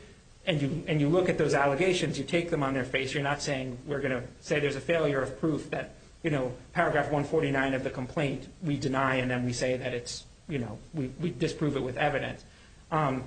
and you look at those allegations, you take them on their face, you're not saying we're going to say there's a failure of proof that paragraph 149 of the complaint we deny and then we say that it's – we disprove it with evidence. And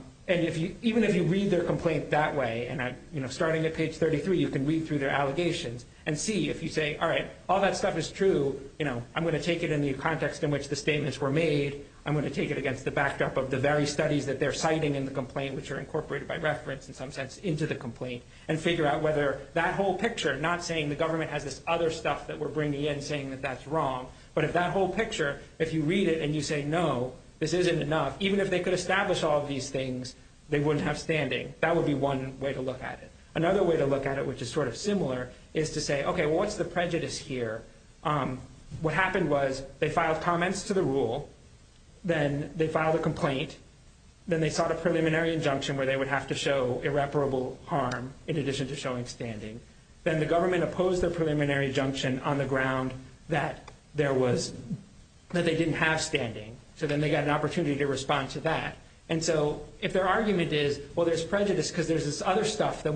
even if you read their complaint that way, and starting at page 33 you can read through their allegations and see if you say, all right, all that stuff is true. I'm going to take it in the context in which the statements were made. I'm going to take it against the backdrop of the very studies that they're citing in the complaint, which are incorporated by reference in some sense into the complaint, and figure out whether that whole picture, not saying the government has this other stuff that we're bringing in saying that that's wrong, but if that whole picture, if you read it and you say, no, this isn't enough, even if they could establish all of these things, they wouldn't have standing. That would be one way to look at it. Another way to look at it, which is sort of similar, is to say, okay, what's the prejudice here? What happened was they filed comments to the rule. Then they filed a complaint. Then they sought a preliminary injunction where they would have to show irreparable harm in addition to showing standing. Then the government opposed their preliminary injunction on the ground that there was – that they didn't have standing. So then they got an opportunity to respond to that. And so if their argument is, well, there's prejudice because there's this other stuff I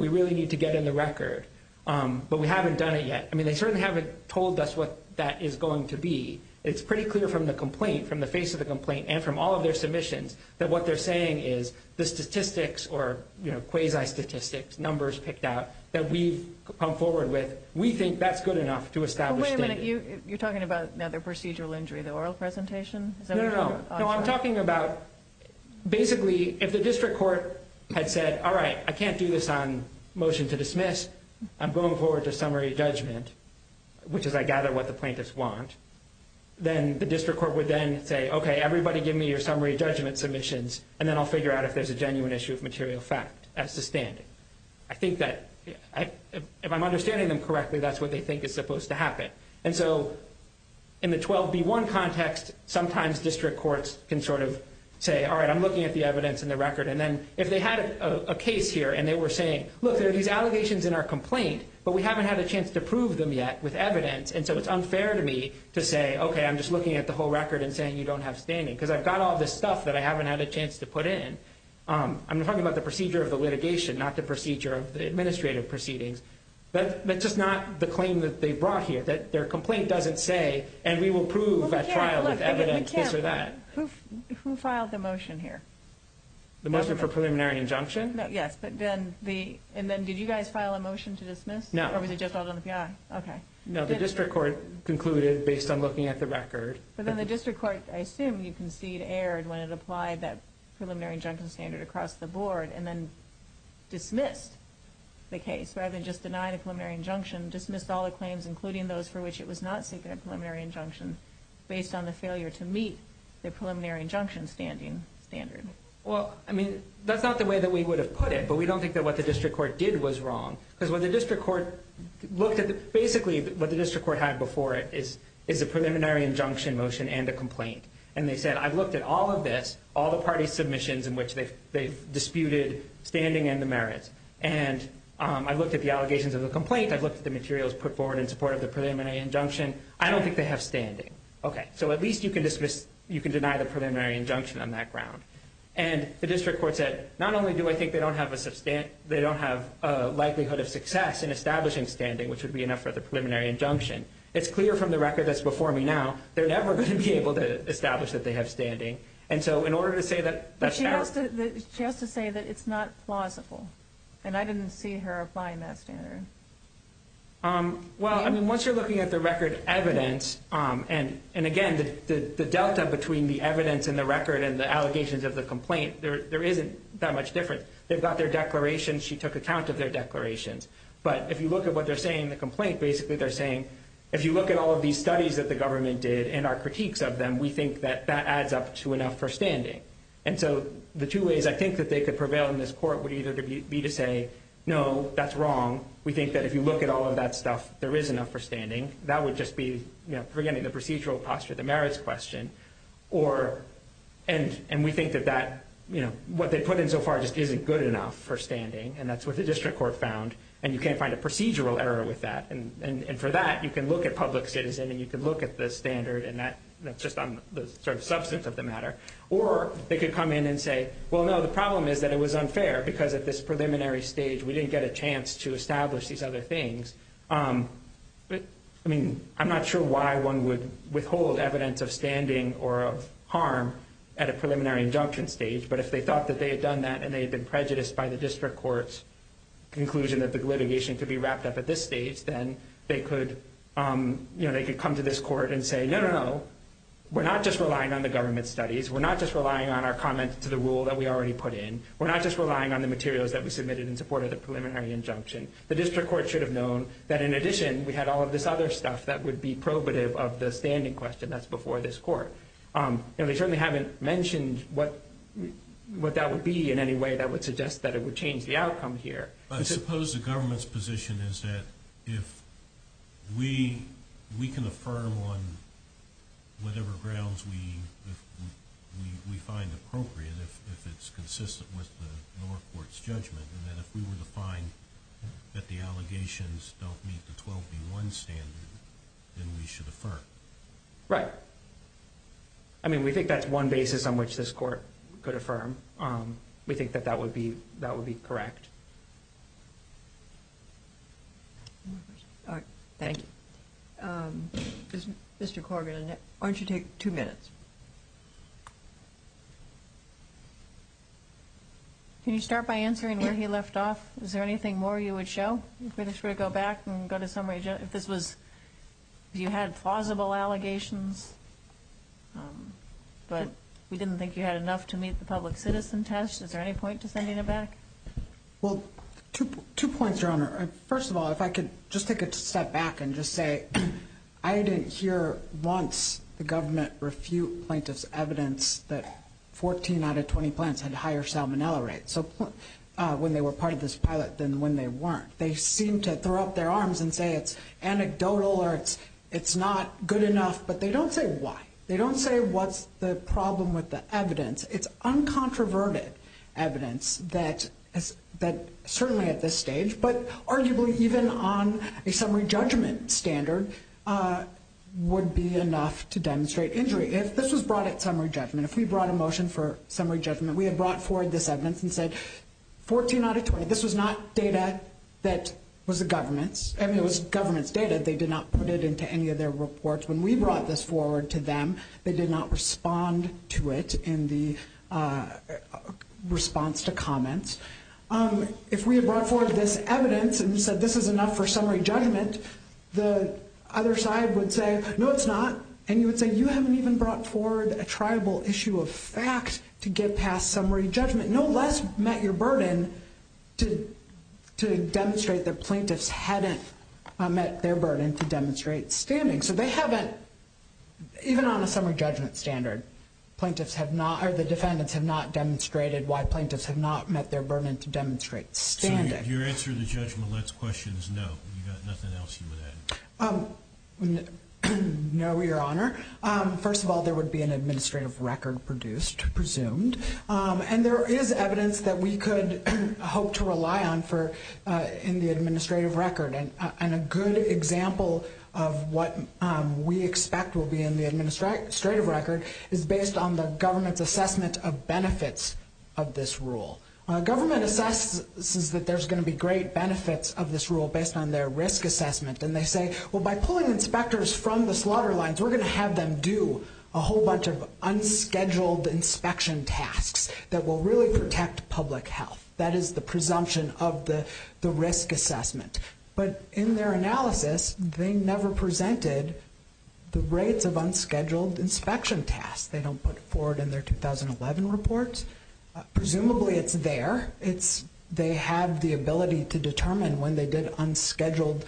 mean, they certainly haven't told us what that is going to be. It's pretty clear from the complaint, from the face of the complaint, and from all of their submissions, that what they're saying is the statistics or quasi-statistics, numbers picked out, that we've come forward with, we think that's good enough to establish standing. But wait a minute. You're talking about the procedural injury, the oral presentation? No, no, no. No, I'm talking about basically if the district court had said, all right, I can't do this on motion to dismiss. I'm going forward to summary judgment, which is I gather what the plaintiffs want. Then the district court would then say, okay, everybody give me your summary judgment submissions, and then I'll figure out if there's a genuine issue of material fact as to standing. I think that if I'm understanding them correctly, that's what they think is supposed to happen. And so in the 12B1 context, sometimes district courts can sort of say, all right, I'm looking at the evidence and the record. And then if they had a case here and they were saying, look, there are these allegations in our complaint, but we haven't had a chance to prove them yet with evidence, and so it's unfair to me to say, okay, I'm just looking at the whole record and saying you don't have standing, because I've got all this stuff that I haven't had a chance to put in. I'm talking about the procedure of the litigation, not the procedure of the administrative proceedings. That's just not the claim that they brought here, that their complaint doesn't say, and we will prove at trial with evidence this or that. Who filed the motion here? The motion for preliminary injunction? Yes. And then did you guys file a motion to dismiss? No. Or was it just filed on the PI? Okay. No, the district court concluded based on looking at the record. But then the district court, I assume you concede, erred when it applied that preliminary injunction standard across the board and then dismissed the case rather than just deny the preliminary injunction, dismissed all the claims, including those for which it was not seeking a preliminary injunction, based on the failure to meet the preliminary injunction standing standard. Well, I mean, that's not the way that we would have put it, but we don't think that what the district court did was wrong. Because what the district court looked at, basically what the district court had before it is a preliminary injunction motion and a complaint. And they said, I've looked at all of this, all the parties' submissions in which they've disputed standing and the merits, and I've looked at the allegations of the complaint, I've looked at the materials put forward in support of the preliminary injunction, I don't think they have standing. Okay. So at least you can deny the preliminary injunction on that ground. And the district court said, not only do I think they don't have a likelihood of success in establishing standing, which would be enough for the preliminary injunction, it's clear from the record that's before me now, they're never going to be able to establish that they have standing. And so in order to say that that's true. But she has to say that it's not plausible. And I didn't see her applying that standard. Well, I mean, once you're looking at the record evidence, and again, the delta between the evidence and the record and the allegations of the complaint, there isn't that much difference. They've got their declarations, she took account of their declarations. But if you look at what they're saying in the complaint, basically they're saying, if you look at all of these studies that the government did and our critiques of them, we think that that adds up to enough for standing. And so the two ways I think that they could prevail in this court would either be to say, no, that's wrong. We think that if you look at all of that stuff, there is enough for standing. That would just be forgetting the procedural posture, the merits question. Or, and we think that that, you know, what they put in so far just isn't good enough for standing. And that's what the district court found. And you can't find a procedural error with that. And for that, you can look at public citizen and you can look at the standard and that's just on the sort of substance of the matter. Or they could come in and say, well, no, the problem is that it was unfair because at this preliminary stage we didn't get a chance to establish these other things. I mean, I'm not sure why one would withhold evidence of standing or of harm at a preliminary injunction stage. But if they thought that they had done that and they had been prejudiced by the district court's conclusion that the litigation could be wrapped up at this stage, then they could come to this court and say, no, no, no. We're not just relying on the government studies. We're not just relying on our comment to the rule that we already put in. We're not just relying on the materials that we submitted in support of the preliminary injunction. The district court should have known that, in addition, we had all of this other stuff that would be probative of the standing question that's before this court. And they certainly haven't mentioned what that would be in any way that would suggest that it would change the outcome here. I suppose the government's position is that if we can affirm on whatever grounds we find appropriate, if it's consistent with the north court's judgment, then if we were to find that the allegations don't meet the 12B1 standard, then we should affirm. Right. I mean, we think that's one basis on which this court could affirm. We think that that would be correct. Thank you. Mr. Corrigan, why don't you take two minutes? Can you start by answering where he left off? Is there anything more you would show? If we were to go back and go to summary, if you had plausible allegations, but we didn't think you had enough to meet the public citizen test, is there any point to sending it back? Well, two points, Your Honor. First of all, if I could just take a step back and just say, I didn't hear once the government refute plaintiff's evidence that 14 out of 20 plants had higher salmonella rates when they were part of this pilot than when they weren't. They seem to throw up their arms and say it's anecdotal or it's not good enough, but they don't say why. They don't say what's the problem with the evidence. It's uncontroverted evidence that certainly at this stage, but arguably even on a summary judgment standard, would be enough to demonstrate injury. If this was brought at summary judgment, if we brought a motion for summary judgment, we had brought forward this evidence and said 14 out of 20, this was not data that was the government's. I mean, it was government's data. They did not put it into any of their reports. When we brought this forward to them, they did not respond to it in the response to comments. If we had brought forward this evidence and said this is enough for summary judgment, the other side would say, no, it's not. And you would say you haven't even brought forward a triable issue of fact to get past summary judgment. No less met your burden to demonstrate that plaintiffs hadn't met their burden to demonstrate standing. So they haven't, even on a summary judgment standard, plaintiffs have not or the defendants have not demonstrated why plaintiffs have not met their burden to demonstrate standing. So your answer to Judge Millett's question is no, you've got nothing else you would add? No, Your Honor. First of all, there would be an administrative record produced, presumed, and there is evidence that we could hope to rely on in the administrative record and a good example of what we expect will be in the administrative record is based on the government's assessment of benefits of this rule. Government assesses that there's going to be great benefits of this rule based on their risk assessment and they say, well, by pulling inspectors from the slaughter lines, we're going to have them do a whole bunch of unscheduled inspection tasks that will really protect public health. That is the presumption of the risk assessment. But in their analysis, they never presented the rates of unscheduled inspection tasks. They don't put it forward in their 2011 report. Presumably it's there. They have the ability to determine when they did unscheduled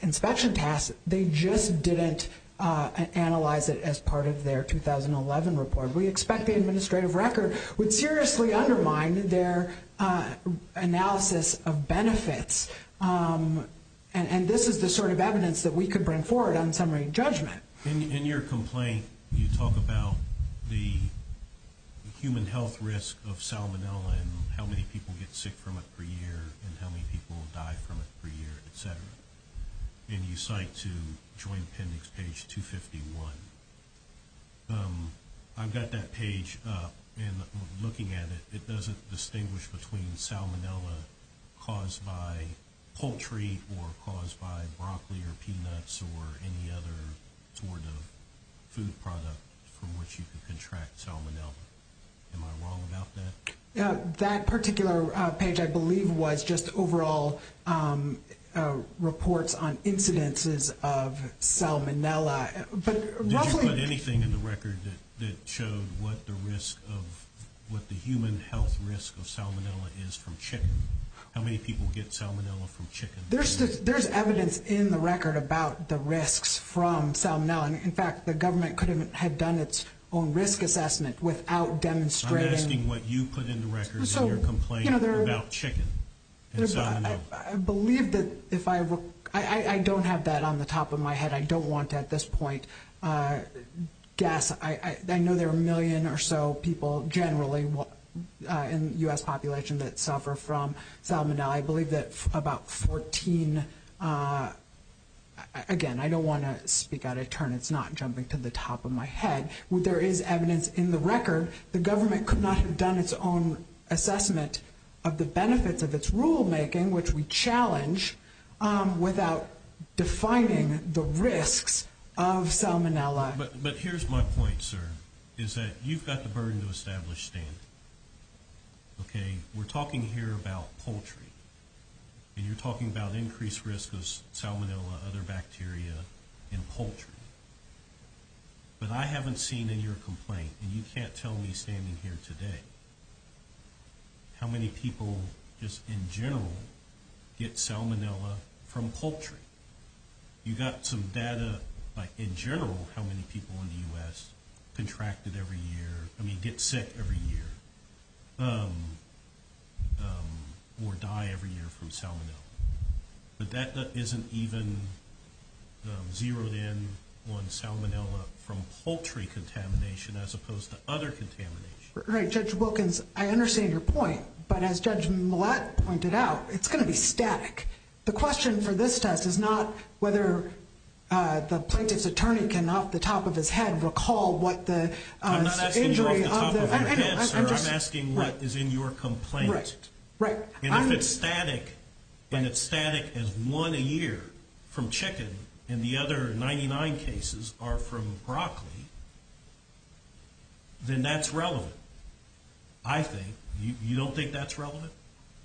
inspection tasks. They just didn't analyze it as part of their 2011 report. We expect the administrative record would seriously undermine their analysis of benefits and this is the sort of evidence that we could bring forward on summary judgment. In your complaint, you talk about the human health risk of salmonella and how many people get sick from it per year and how many people die from it per year, etc. And you cite to Joint Appendix page 251. I've got that page up and looking at it, it doesn't distinguish between salmonella caused by poultry or caused by broccoli or peanuts or any other sort of food product from which you can contract salmonella. Am I wrong about that? That particular page, I believe, was just overall reports on incidences of salmonella. Did you put anything in the record that showed what the human health risk of salmonella is from chicken? How many people get salmonella from chicken? There's evidence in the record about the risks from salmonella. In fact, the government could have done its own risk assessment without demonstrating. I'm asking what you put in the record in your complaint about chicken and salmonella. I don't have that on the top of my head. I don't want to at this point guess. I know there are a million or so people generally in the U.S. population that suffer from salmonella. I believe that about 14, again, I don't want to speak out of turn. It's not jumping to the top of my head. There is evidence in the record. The government could not have done its own assessment of the benefits of its rulemaking, which we challenge, without defining the risks of salmonella. But here's my point, sir, is that you've got the burden to establish standards. We're talking here about poultry, and you're talking about increased risk of salmonella, other bacteria in poultry. But I haven't seen in your complaint, and you can't tell me standing here today, how many people just in general get salmonella from poultry. You've got some data, like in general, how many people in the U.S. contracted every year, I mean get sick every year, or die every year from salmonella. But that isn't even zeroed in on salmonella from poultry contamination as opposed to other contamination. Right, Judge Wilkins, I understand your point, but as Judge Millett pointed out, it's going to be static. The question for this test is not whether the plaintiff's attorney can, off the top of his head, recall what the injury of the- I'm not asking you off the top of your head, sir. I'm asking what is in your complaint. Right. And if it's static, and it's static as one a year from chicken, and the other 99 cases are from broccoli, then that's relevant, I think. You don't think that's relevant?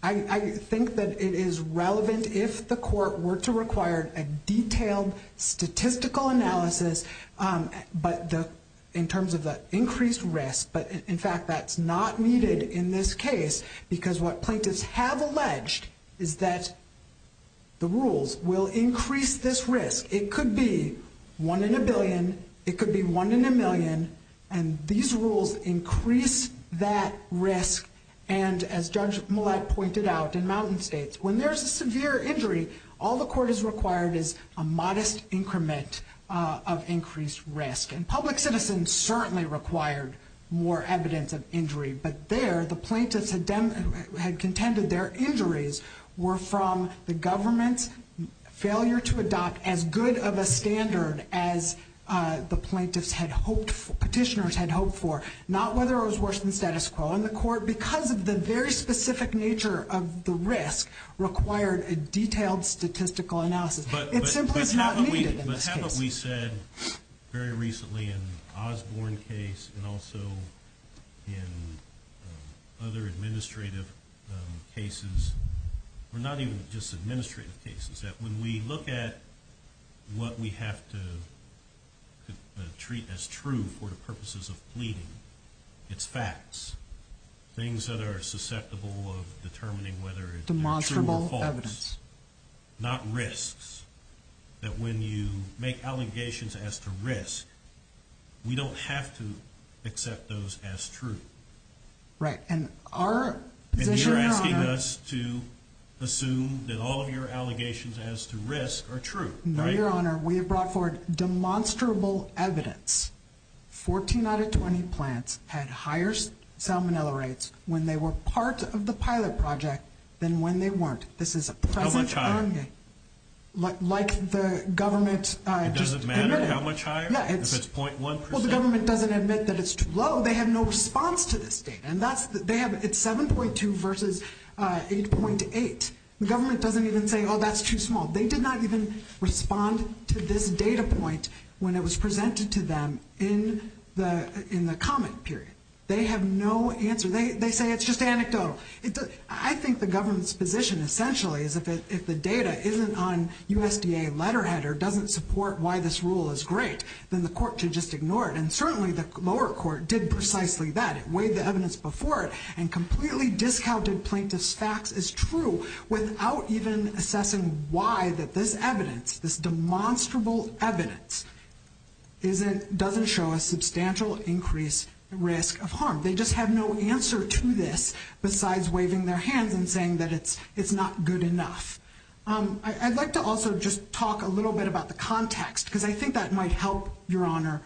I think that it is relevant if the court were to require a detailed statistical analysis, but in terms of the increased risk, but in fact that's not needed in this case, because what plaintiffs have alleged is that the rules will increase this risk. It could be one in a billion, it could be one in a million, and these rules increase that risk, and as Judge Millett pointed out in Mountain States, when there's a severe injury, all the court has required is a modest increment of increased risk. But there, the plaintiffs had contended their injuries were from the government's failure to adopt as good of a standard as the plaintiffs had hoped for, petitioners had hoped for, not whether it was worse than the status quo. And the court, because of the very specific nature of the risk, required a detailed statistical analysis. It simply is not needed in this case. We've said very recently in the Osborne case and also in other administrative cases, or not even just administrative cases, that when we look at what we have to treat as true for the purposes of pleading, it's facts, things that are susceptible of determining whether it's true or false. Demonstrable evidence. Not risks. That when you make allegations as to risk, we don't have to accept those as true. Right, and our position, Your Honor. And you're asking us to assume that all of your allegations as to risk are true, right? No, Your Honor, we have brought forward demonstrable evidence. 14 out of 20 plants had higher salmonella rates when they were part of the pilot project than when they weren't. How much higher? Like the government just admitted. It doesn't matter how much higher? Yeah. If it's .1%? Well, the government doesn't admit that it's too low. They have no response to this data. It's 7.2 versus 8.8. The government doesn't even say, oh, that's too small. They did not even respond to this data point when it was presented to them in the comment period. They have no answer. They say it's just anecdotal. I think the government's position essentially is if the data isn't on USDA letterhead or doesn't support why this rule is great, then the court should just ignore it. And certainly the lower court did precisely that. It weighed the evidence before it and completely discounted plaintiff's facts as true without even assessing why that this evidence, this demonstrable evidence, doesn't show a substantial increased risk of harm. They just have no answer to this besides waving their hands and saying that it's not good enough. I'd like to also just talk a little bit about the context because I think that might help, Your Honor,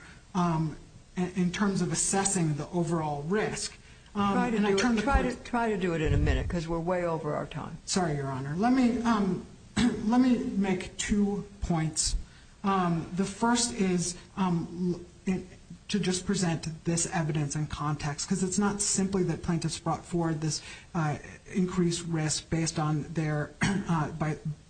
in terms of assessing the overall risk. Try to do it in a minute because we're way over our time. Sorry, Your Honor. Let me make two points. The first is to just present this evidence in context because it's not simply that plaintiffs brought forward this increased risk based on their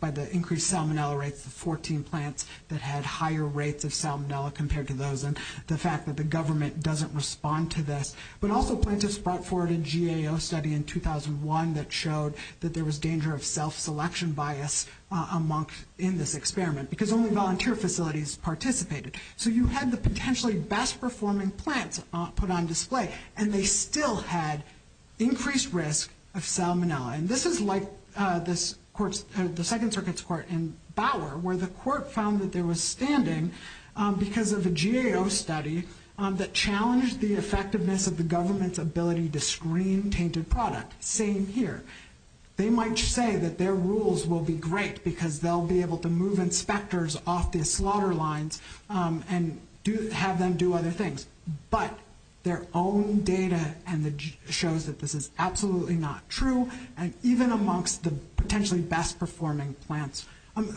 by the increased salmonella rates of 14 plants that had higher rates of salmonella compared to those and the fact that the government doesn't respond to this. But also plaintiffs brought forward a GAO study in 2001 that showed that there was danger of self-selection bias in this experiment because only volunteer facilities participated. So you had the potentially best performing plants put on display and they still had increased risk of salmonella. And this is like the Second Circuit's court in Bauer where the court found that there was standing because of a GAO study that challenged the effectiveness of the government's ability to screen tainted product. Same here. They might say that their rules will be great because they'll be able to move inspectors off the slaughter lines and have them do other things. But their own data shows that this is absolutely not true and even amongst the potentially best performing plants.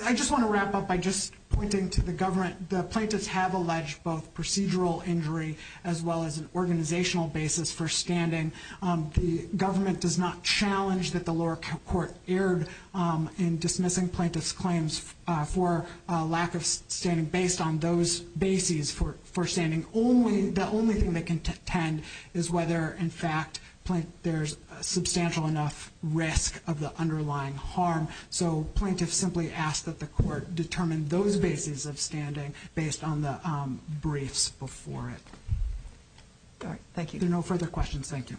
I just want to wrap up by just pointing to the government. The plaintiffs have alleged both procedural injury as well as an organizational basis for standing. The government does not challenge that the lower court erred in dismissing plaintiffs' claims for lack of standing based on those bases for standing. The only thing that can tend is whether in fact there's substantial enough risk of the underlying harm. So plaintiffs simply ask that the court determine those bases of standing based on the briefs before it. Thank you. There are no further questions. Thank you.